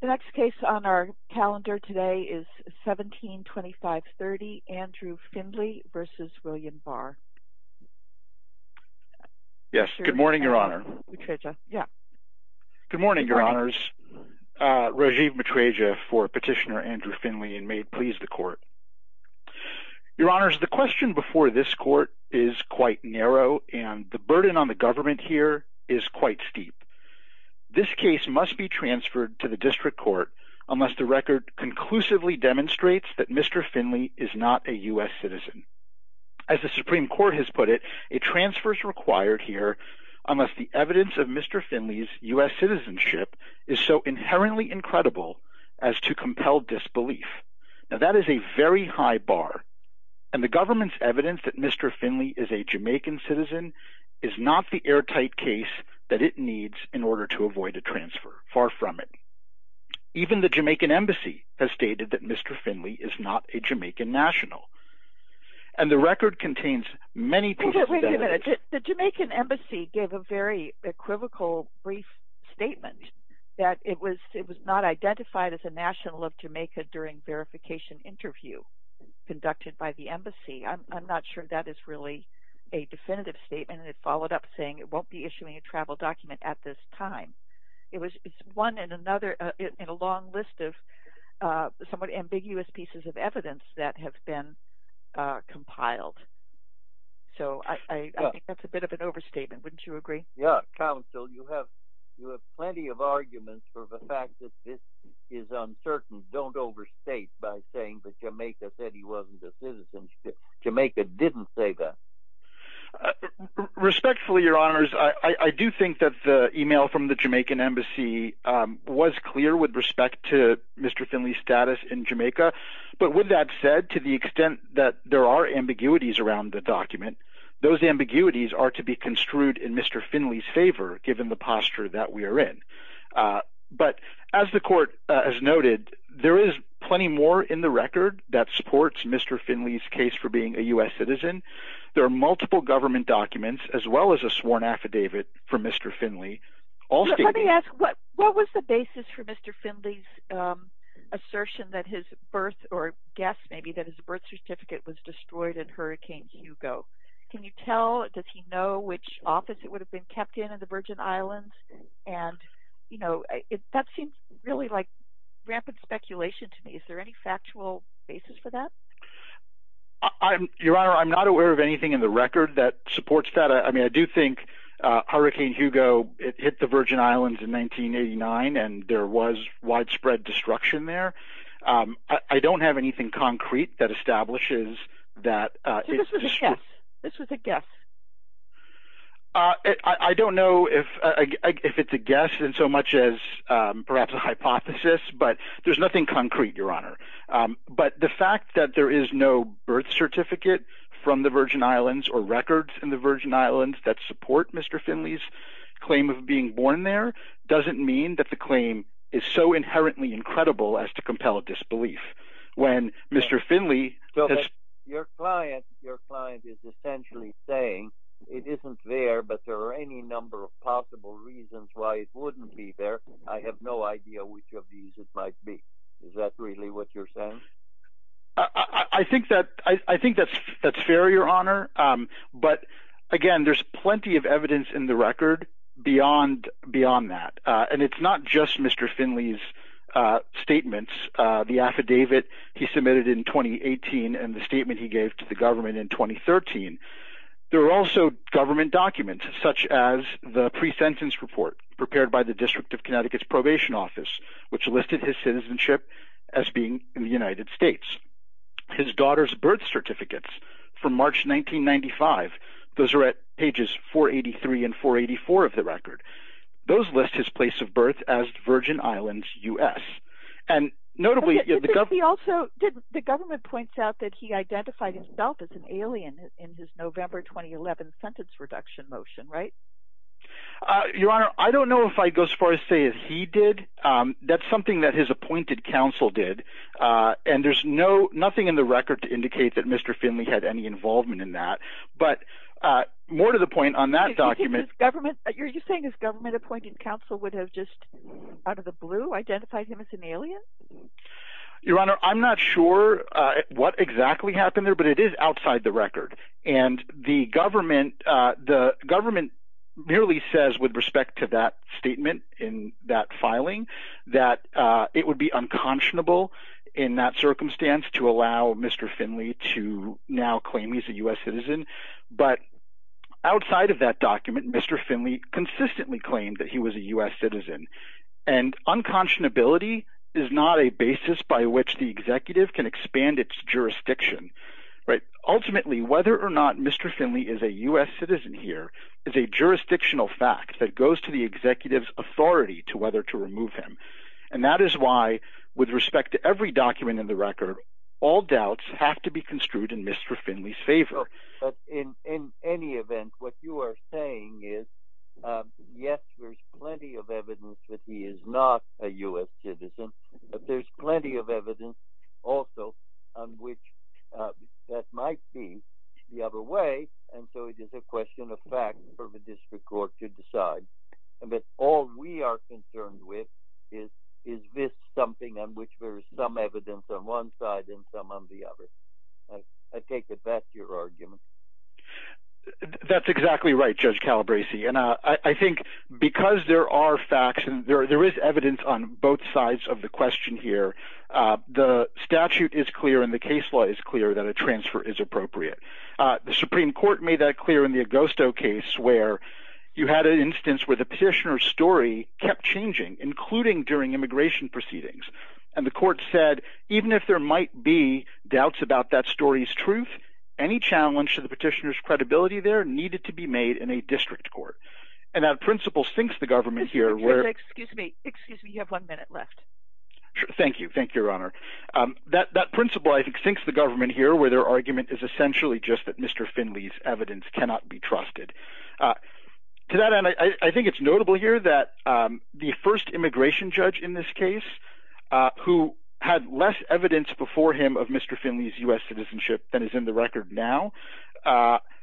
The next case on our calendar today is 172530, Andrew Findley v. William Barr. Yes, good morning, Your Honor. Good morning, Your Honors. Rajiv Matreja for Petitioner Andrew Findley, and may it please the Court. Your Honors, the question before this Court is quite narrow, and the burden on the government here is quite steep. This case must be transferred to the District Court unless the record conclusively demonstrates that Mr. Findley is not a U.S. citizen. As the Supreme Court has put it, a transfer is required here unless the evidence of Mr. Findley's U.S. citizenship is so inherently incredible as to compel disbelief. Now, that is a very high bar, and the government's evidence that Mr. Findley is a Jamaican citizen is not the airtight case that it needs in order to avoid a transfer. Far from it. Even the Jamaican Embassy has stated that Mr. Findley is not a Jamaican national, and the record contains many pieces of evidence. The Jamaican Embassy gave a very equivocal brief statement that it was not identified as a national of Jamaica during verification interview conducted by the Embassy. I'm not sure that is really a definitive statement, and it followed up saying it won't be issuing a travel document at this time. It's one in a long list of somewhat ambiguous pieces of evidence that have been compiled. So I think that's a bit of an overstatement. Wouldn't you agree? Yeah. Counsel, you have plenty of arguments for the fact that this is uncertain. Don't overstate by saying that Jamaica said he wasn't a citizen. Jamaica didn't say that. Respectfully, Your Honors, I do think that the email from the Jamaican Embassy was clear with respect to Mr. Findley's status in Jamaica, but with that said, to the extent that there are ambiguities around the document, those ambiguities are to be construed in Mr. Findley's favor given the posture that we are in. But as the Court has noted, there is plenty more in the record that supports Mr. Findley's case for being a U.S. citizen. There are multiple government documents as well as a sworn affidavit from Mr. Findley. Let me ask, what was the basis for Mr. Findley's assertion that his birth – or guess maybe – that his birth certificate was destroyed in Hurricane Hugo? Can you tell? Does he know which office it would have been kept in in the Virgin Islands? And that seems really like rampant speculation to me. Is there any factual basis for that? Your Honor, I'm not aware of anything in the record that supports that. I mean, I do think Hurricane Hugo hit the Virgin Islands in 1989, and there was widespread destruction there. I don't have anything concrete that establishes that it's – So this was a guess? This was a guess? I don't know if it's a guess in so much as perhaps a hypothesis, but there's nothing concrete, Your Honor. But the fact that there is no birth certificate from the Virgin Islands or records in the Virgin Islands that support Mr. Findley's claim of being born there doesn't mean that the claim is so inherently incredible as to compel disbelief. When Mr. Findley – Your client is essentially saying it isn't there, but there are any number of possible reasons why it wouldn't be there. I have no idea which of these it might be. Is that really what you're saying? I think that's fair, Your Honor, but again, there's plenty of evidence in the record beyond that. And it's not just Mr. Findley's statements, the affidavit he submitted in 2018 and the statement he gave to the government in 2013. There are also government documents such as the pre-sentence report prepared by the District of Connecticut's probation office, which listed his citizenship as being in the United States. His daughter's birth certificates from March 1995, those are at pages 483 and 484 of the record. Those list his place of birth as Virgin Islands, U.S. The government points out that he identified himself as an alien in his November 2011 sentence reduction motion, right? Your Honor, I don't know if I'd go as far as to say that he did. That's something that his appointed counsel did, and there's nothing in the record to indicate that Mr. Findley had any involvement in that. But more to the point on that document... You're saying his government appointed counsel would have just, out of the blue, identified him as an alien? Your Honor, I'm not sure what exactly happened there, but it is outside the record. And the government merely says with respect to that statement in that filing that it would be unconscionable in that circumstance to allow Mr. Findley to now claim he's a U.S. citizen. But outside of that document, Mr. Findley consistently claimed that he was a U.S. citizen. And unconscionability is not a basis by which the executive can expand its jurisdiction, right? Whether or not Mr. Findley is a U.S. citizen here is a jurisdictional fact that goes to the executive's authority to whether to remove him. And that is why, with respect to every document in the record, all doubts have to be construed in Mr. Findley's favor. But in any event, what you are saying is, yes, there's plenty of evidence that he is not a U.S. citizen. But there's plenty of evidence also on which that might be the other way. And so it is a question of fact for the district court to decide. But all we are concerned with is, is this something on which there is some evidence on one side and some on the other? I take it that's your argument. That's exactly right, Judge Calabresi. And I think because there are facts and there is evidence on both sides of the question here, the statute is clear and the case law is clear that a transfer is appropriate. The Supreme Court made that clear in the Agosto case where you had an instance where the petitioner's story kept changing, including during immigration proceedings. And the court said even if there might be doubts about that story's truth, any challenge to the petitioner's credibility there needed to be made in a district court. And that principle sinks the government here where… Excuse me. Excuse me. You have one minute left. Thank you. Thank you, Your Honor. That principle, I think, sinks the government here where their argument is essentially just that Mr. Findley's evidence cannot be trusted. To that end, I think it's notable here that the first immigration judge in this case, who had less evidence before him of Mr. Findley's U.S. citizenship than is in the record now,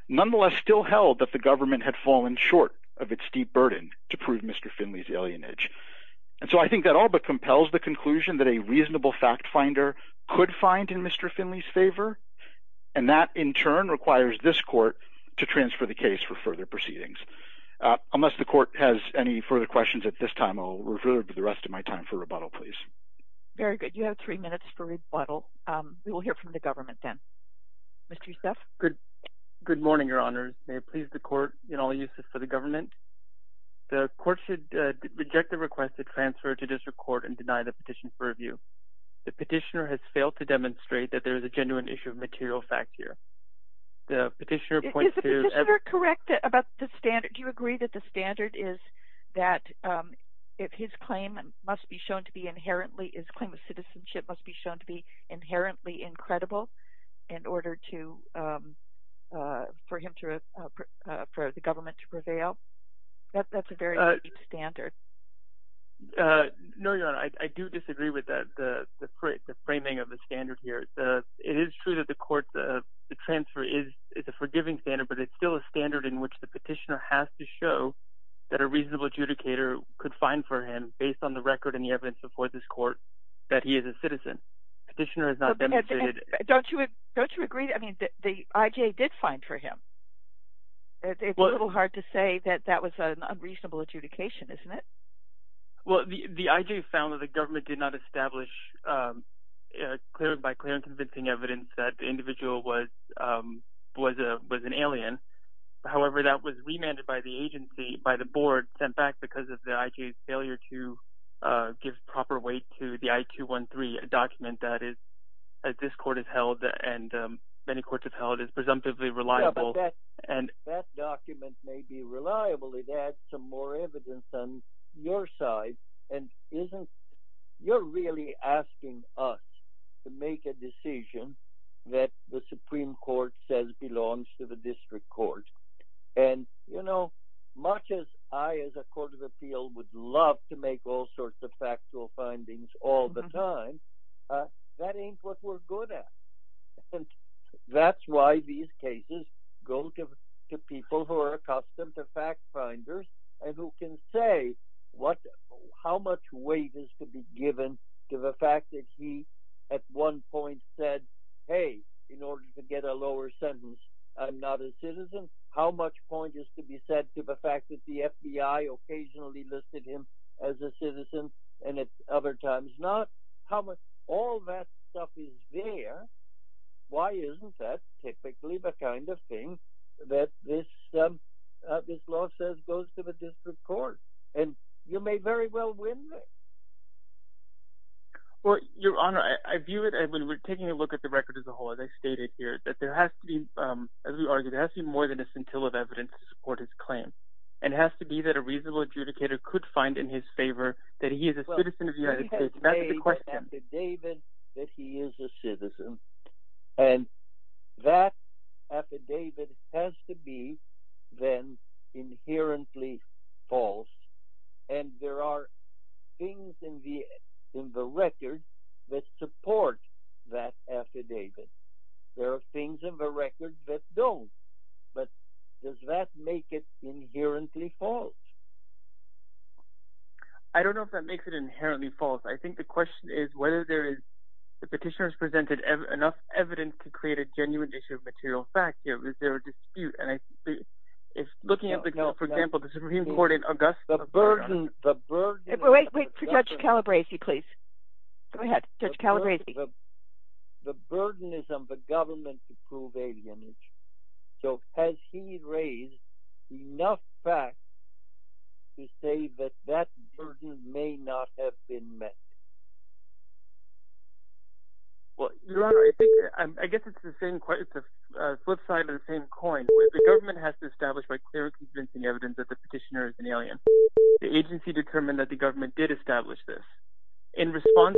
nonetheless still held that the government had fallen short of its deep burden to prove Mr. Findley's alienage. And so I think that all but compels the conclusion that a reasonable fact finder could find in Mr. Findley's favor, and that in turn requires this court to transfer the case for further proceedings. Unless the court has any further questions at this time, I'll refer to the rest of my time for rebuttal, please. Very good. You have three minutes for rebuttal. We will hear from the government then. Mr. Youssef. Good morning, Your Honors. May it please the court in all uses for the government. The court should reject the request to transfer to district court and deny the petition for review. The petitioner has failed to demonstrate that there is a genuine issue of material fact here. Is the petitioner correct about the standard? Do you agree that the standard is that if his claim must be shown to be inherently, his claim of citizenship must be shown to be inherently incredible in order for the government to prevail? That's a very unique standard. No, Your Honor. I do disagree with the framing of the standard here. It is true that the court, the transfer is a forgiving standard, but it's still a standard in which the petitioner has to show that a reasonable adjudicator could find for him based on the record and the evidence before this court that he is a citizen. Petitioner has not demonstrated – Don't you agree – I mean, the IJA did find for him. It's a little hard to say that that was an unreasonable adjudication, isn't it? Well, the IJA found that the government did not establish by clear and convincing evidence that the individual was an alien. However, that was remanded by the agency, by the board, sent back because of the IJA's failure to give proper weight to the I-213 document that this court has held and many courts have held is presumptively reliable. Yeah, but that document may be reliable. It adds some more evidence on your side. And isn't – you're really asking us to make a decision that the Supreme Court says belongs to the district court. And, you know, much as I as a court of appeal would love to make all sorts of factual findings all the time, that ain't what we're good at. And that's why these cases go to people who are accustomed to fact finders and who can say how much weight is to be given to the fact that he at one point said, hey, in order to get a lower sentence, I'm not a citizen. How much point is to be said to the fact that the FBI occasionally listed him as a citizen and at other times not? How much – all that stuff is there. Why isn't that typically the kind of thing that this law says goes to the district court? And you may very well win there. Well, Your Honor, I view it – when we're taking a look at the record as a whole, as I stated here, that there has to be – as we argued, there has to be more than a scintilla of evidence to support his claim. And it has to be that a reasonable adjudicator could find in his favor that he is a citizen of the United States. And that affidavit has to be then inherently false. And there are things in the record that support that affidavit. There are things in the record that don't. But does that make it inherently false? I don't know if that makes it inherently false. I think the question is whether there is – the petitioner has presented enough evidence to create a genuine issue of material fact. Is there a dispute? And if looking at the – for example, the Supreme Court in Augusta… The burden – the burden… Wait, wait, Judge Calabresi, please. Go ahead, Judge Calabresi. The burden is on the government to prove alienation. So has he raised enough facts to say that that burden may not have been met? Your Honor, I think – I guess it's the same – it's a flip side of the same coin. The government has to establish by clear and convincing evidence that the petitioner is an alien. The agency determined that the government did establish this. In response,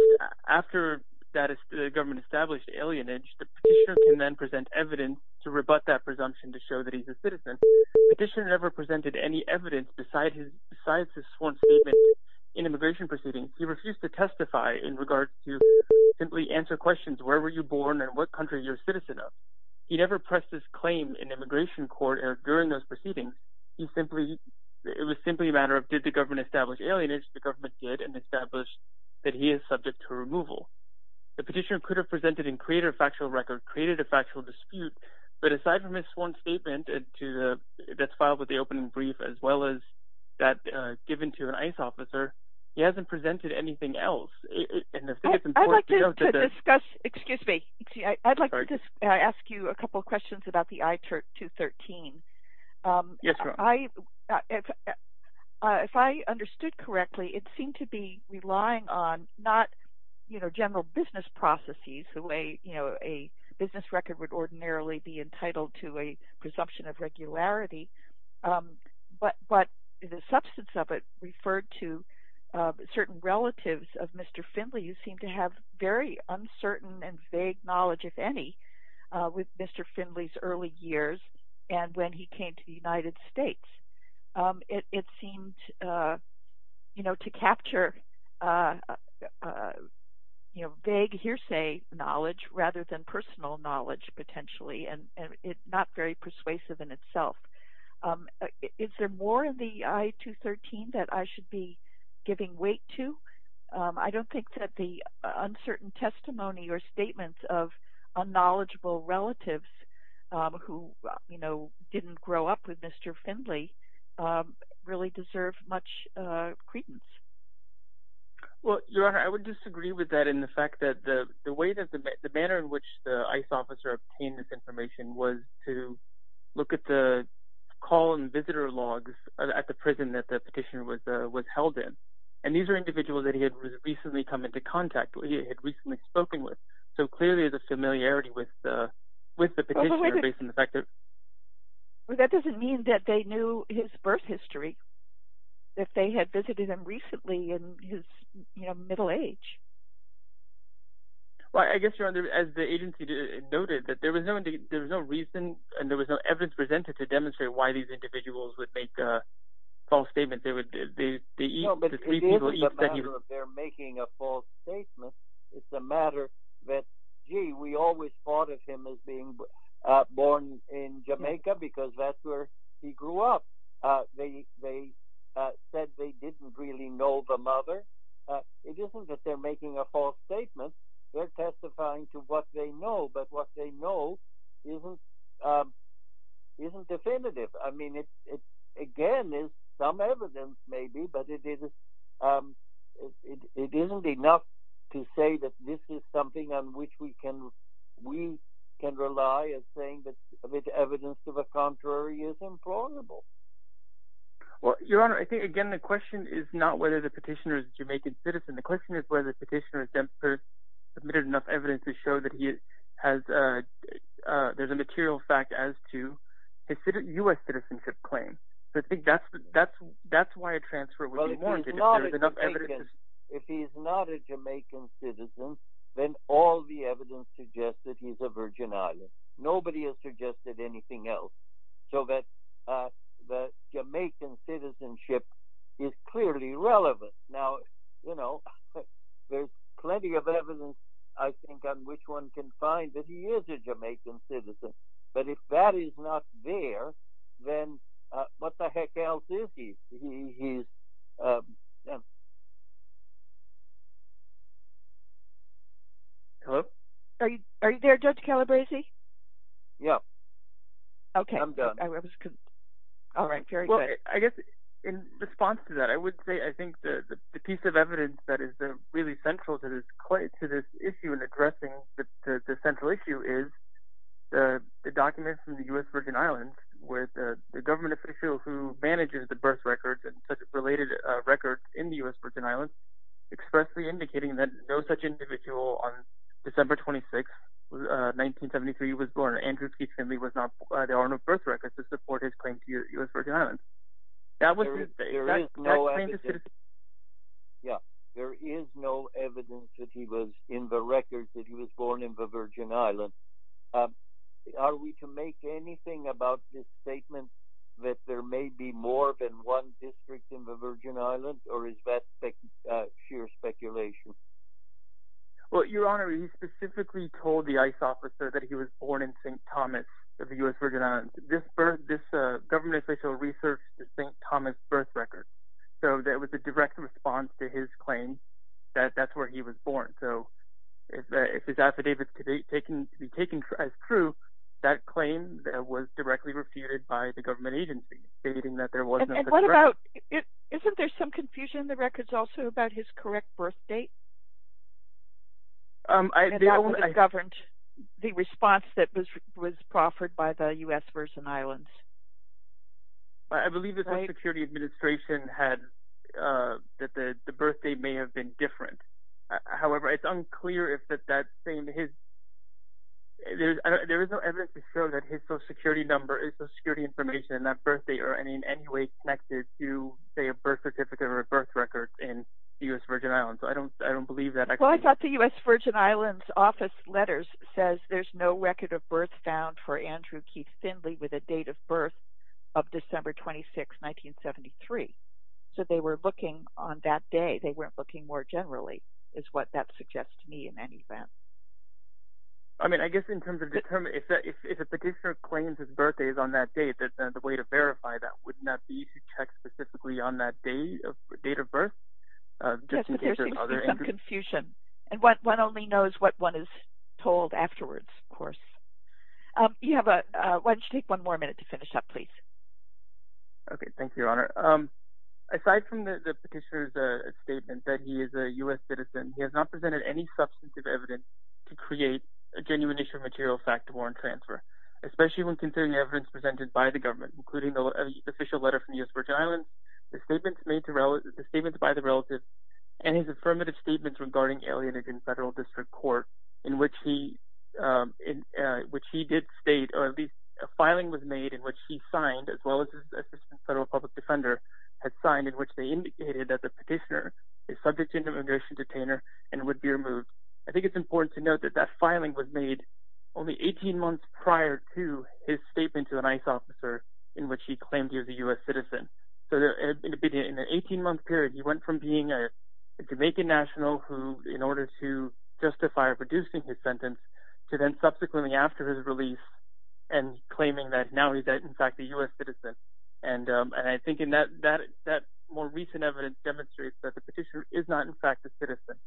after the government established alienage, the petitioner can then present evidence to rebut that presumption to show that he's a citizen. The petitioner never presented any evidence besides his sworn statement in immigration proceedings. He refused to testify in regards to simply answer questions. Where were you born and what country are you a citizen of? He never pressed his claim in immigration court or during those proceedings. It was simply a matter of did the government establish alienage? The government did and established that he is subject to removal. The petitioner could have presented and created a factual record, created a factual dispute, but aside from his sworn statement that's filed with the opening brief as well as that given to an ICE officer, he hasn't presented anything else. I'd like to discuss – excuse me. I'd like to ask you a couple of questions about the I-213. If I understood correctly, it seemed to be relying on not general business processes, the way a business record would ordinarily be entitled to a presumption of regularity, but the substance of it referred to certain relatives of Mr. Findley who seemed to have very uncertain and vague knowledge, if any, with Mr. Findley's early years and when he came to the United States. It seemed to capture vague hearsay knowledge rather than personal knowledge, potentially, and it's not very persuasive in itself. Is there more in the I-213 that I should be giving weight to? I don't think that the uncertain testimony or statements of unknowledgeable relatives who didn't grow up with Mr. Findley really deserve much credence. Well, Your Honor, I would disagree with that in the fact that the manner in which the ICE officer obtained this information was to look at the call and visitor logs at the prison that the petitioner was held in. And these are individuals that he had recently come into contact with, he had recently spoken with, so clearly there's a familiarity with the petitioner based on the fact that… Well, that doesn't mean that they knew his birth history if they had visited him recently in his middle age. Well, I guess, Your Honor, as the agency noted, that there was no reason and there was no evidence presented to demonstrate why these individuals would make a false statement. No, but it isn't a matter of their making a false statement. It's a matter that, gee, we always thought of him as being born in Jamaica because that's where he grew up. They said they didn't really know the mother. It isn't that they're making a false statement. They're testifying to what they know, but what they know isn't definitive. I mean, again, there's some evidence maybe, but it isn't enough to say that this is something on which we can rely as saying that evidence to the contrary is implausible. Well, Your Honor, I think, again, the question is not whether the petitioner is a Jamaican citizen. The question is whether the petitioner has submitted enough evidence to show that there's a material fact as to a U.S. citizenship claim. I think that's why a transfer would be warranted, if there's enough evidence. Well, if he's not a Jamaican citizen, then all the evidence suggests that he's a Virgin Islander. Nobody has suggested anything else, so that Jamaican citizenship is clearly relevant. Now, you know, there's plenty of evidence, I think, on which one can find that he is a Jamaican citizen, but if that is not there, then what the heck else is he? Hello? Are you there, Judge Calabresi? Yeah. I'm done. Okay. All right. Very good. I guess in response to that, I would say I think the piece of evidence that is really central to this issue in addressing the central issue is the documents from the U.S. Virgin Islands where the government official who manages the birth records and such related records in the U.S. Virgin Islands expressly indicating that no such individual on December 26, 1973, was born. Andrew T. Finley was not the owner of birth records to support his claim to the U.S. Virgin Islands. There is no evidence that he was in the records that he was born in the Virgin Islands. Are we to make anything about this statement that there may be more than one district in the Virgin Islands, or is that sheer speculation? Well, Your Honor, he specifically told the ICE officer that he was born in St. Thomas of the U.S. Virgin Islands. This government official researched the St. Thomas birth record, so that was a direct response to his claim that that's where he was born. So if his affidavits could be taken as true, that claim was directly refuted by the government agency, stating that there was no such record. Isn't there some confusion in the records also about his correct birth date? And that would have governed the response that was proffered by the U.S. Virgin Islands. I believe the Social Security Administration had that the birth date may have been different. However, it's unclear if that same, his, there is no evidence to show that his Social Security number, his Social Security information and that birth date are in any way connected to, say, a birth certificate or a birth record in the U.S. Virgin Islands. I don't believe that. Well, I thought the U.S. Virgin Islands office letters says there's no record of birth found for Andrew Keith Findley with a date of birth of December 26, 1973. So they were looking on that day. They weren't looking more generally, is what that suggests to me in any event. I mean, I guess in terms of, if a petitioner claims his birthday is on that date, the way to verify that, wouldn't that be to check specifically on that date of birth? Yes, but there seems to be some confusion. And one only knows what one is told afterwards, of course. Why don't you take one more minute to finish up, please? Okay, thank you, Your Honor. Aside from the petitioner's statement that he is a U.S. citizen, he has not presented any substantive evidence to create a genuine issue of material fact to warrant transfer, especially when considering evidence presented by the government, including the official letter from the U.S. Virgin Islands, the statements made to relatives, the statements by the relatives, and his affirmative statements regarding alienation in federal district court in which he did state, or at least a filing was made in which he signed, as well as his assistant federal public defender had signed, in which they indicated that the petitioner is subject to an immigration detainer and would be removed. I think it's important to note that that filing was made only 18 months prior to his statement to an ICE officer in which he claimed he was a U.S. citizen. So in an 18-month period, he went from being a Jamaican national who, in order to justify reducing his sentence, to then subsequently after his release and claiming that now he's in fact a U.S. citizen. And I think that more recent evidence demonstrates that the petitioner is not in fact a citizen.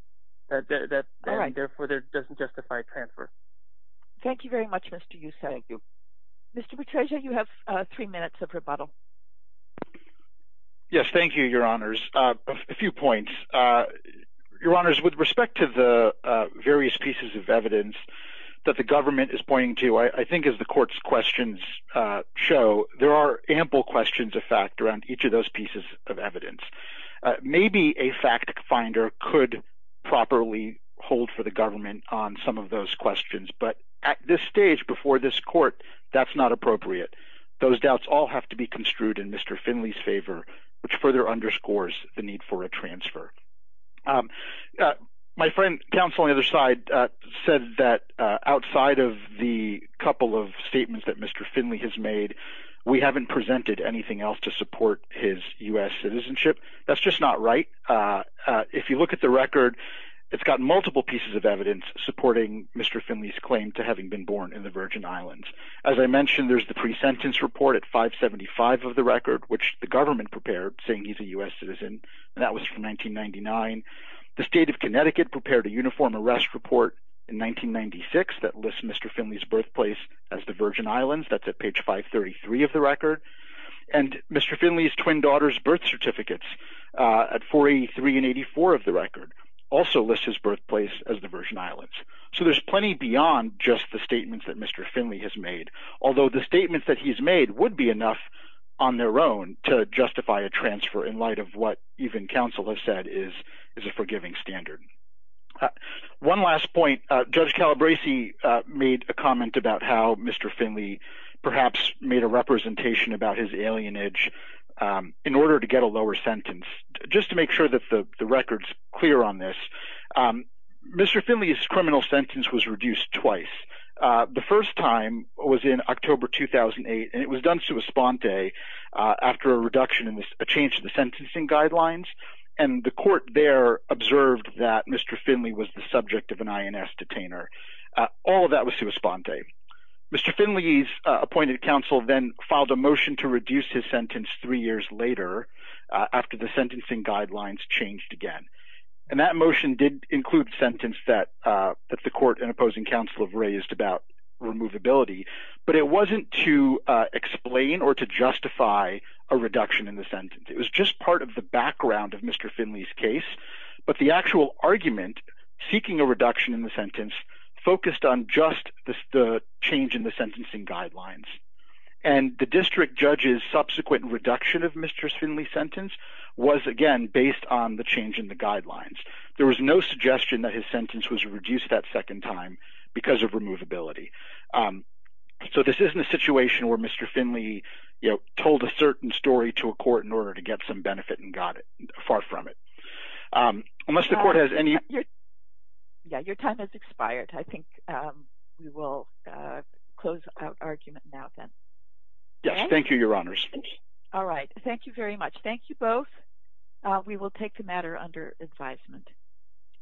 All right. Therefore, there doesn't justify transfer. Thank you very much, Mr. Youssef. Thank you. Mr. Petraeus, you have three minutes of rebuttal. Yes, thank you, Your Honors. A few points. Your Honors, with respect to the various pieces of evidence that the government is pointing to, I think as the court's questions show, there are ample questions of fact around each of those pieces of evidence. Maybe a fact finder could properly hold for the government on some of those questions, but at this stage before this court, that's not appropriate. Those doubts all have to be construed in Mr. Finley's favor, which further underscores the need for a transfer. My friend, counsel on the other side, said that outside of the couple of statements that Mr. Finley has made, we haven't presented anything else to support his U.S. citizenship. That's just not right. If you look at the record, it's got multiple pieces of evidence supporting Mr. Finley's claim to having been born in the Virgin Islands. As I mentioned, there's the pre-sentence report at 575 of the record, which the government prepared saying he's a U.S. citizen, and that was from 1999. The state of Connecticut prepared a uniform arrest report in 1996 that lists Mr. Finley's birthplace as the Virgin Islands. That's at page 533 of the record. And Mr. Finley's twin daughter's birth certificates at 483 and 84 of the record also list his birthplace as the Virgin Islands. So there's plenty beyond just the statements that Mr. Finley has made, although the statements that he's made would be enough on their own to justify a transfer in light of what even counsel has said is a forgiving standard. One last point. Judge Calabresi made a comment about how Mr. Finley perhaps made a representation about his alienage in order to get a lower sentence. Just to make sure that the record's clear on this, Mr. Finley's criminal sentence was reduced twice. The first time was in October 2008, and it was done sua sponte after a change in the sentencing guidelines, and the court there observed that Mr. Finley was the subject of an INS detainer. All of that was sua sponte. Mr. Finley's appointed counsel then filed a motion to reduce his sentence three years later after the sentencing guidelines changed again. And that motion did include a sentence that the court and opposing counsel have raised about removability, but it wasn't to explain or to justify a reduction in the sentence. It was just part of the background of Mr. Finley's case, but the actual argument, seeking a reduction in the sentence, focused on just the change in the sentencing guidelines. And the district judge's subsequent reduction of Mr. Finley's sentence was, again, based on the change in the guidelines. There was no suggestion that his sentence was reduced that second time because of removability. So this isn't a situation where Mr. Finley told a certain story to a court in order to get some benefit and got far from it. Unless the court has any... Your time has expired. I think we will close our argument now then. Yes. Thank you, Your Honors. All right. Thank you very much. Thank you both. We will take the matter under advisement.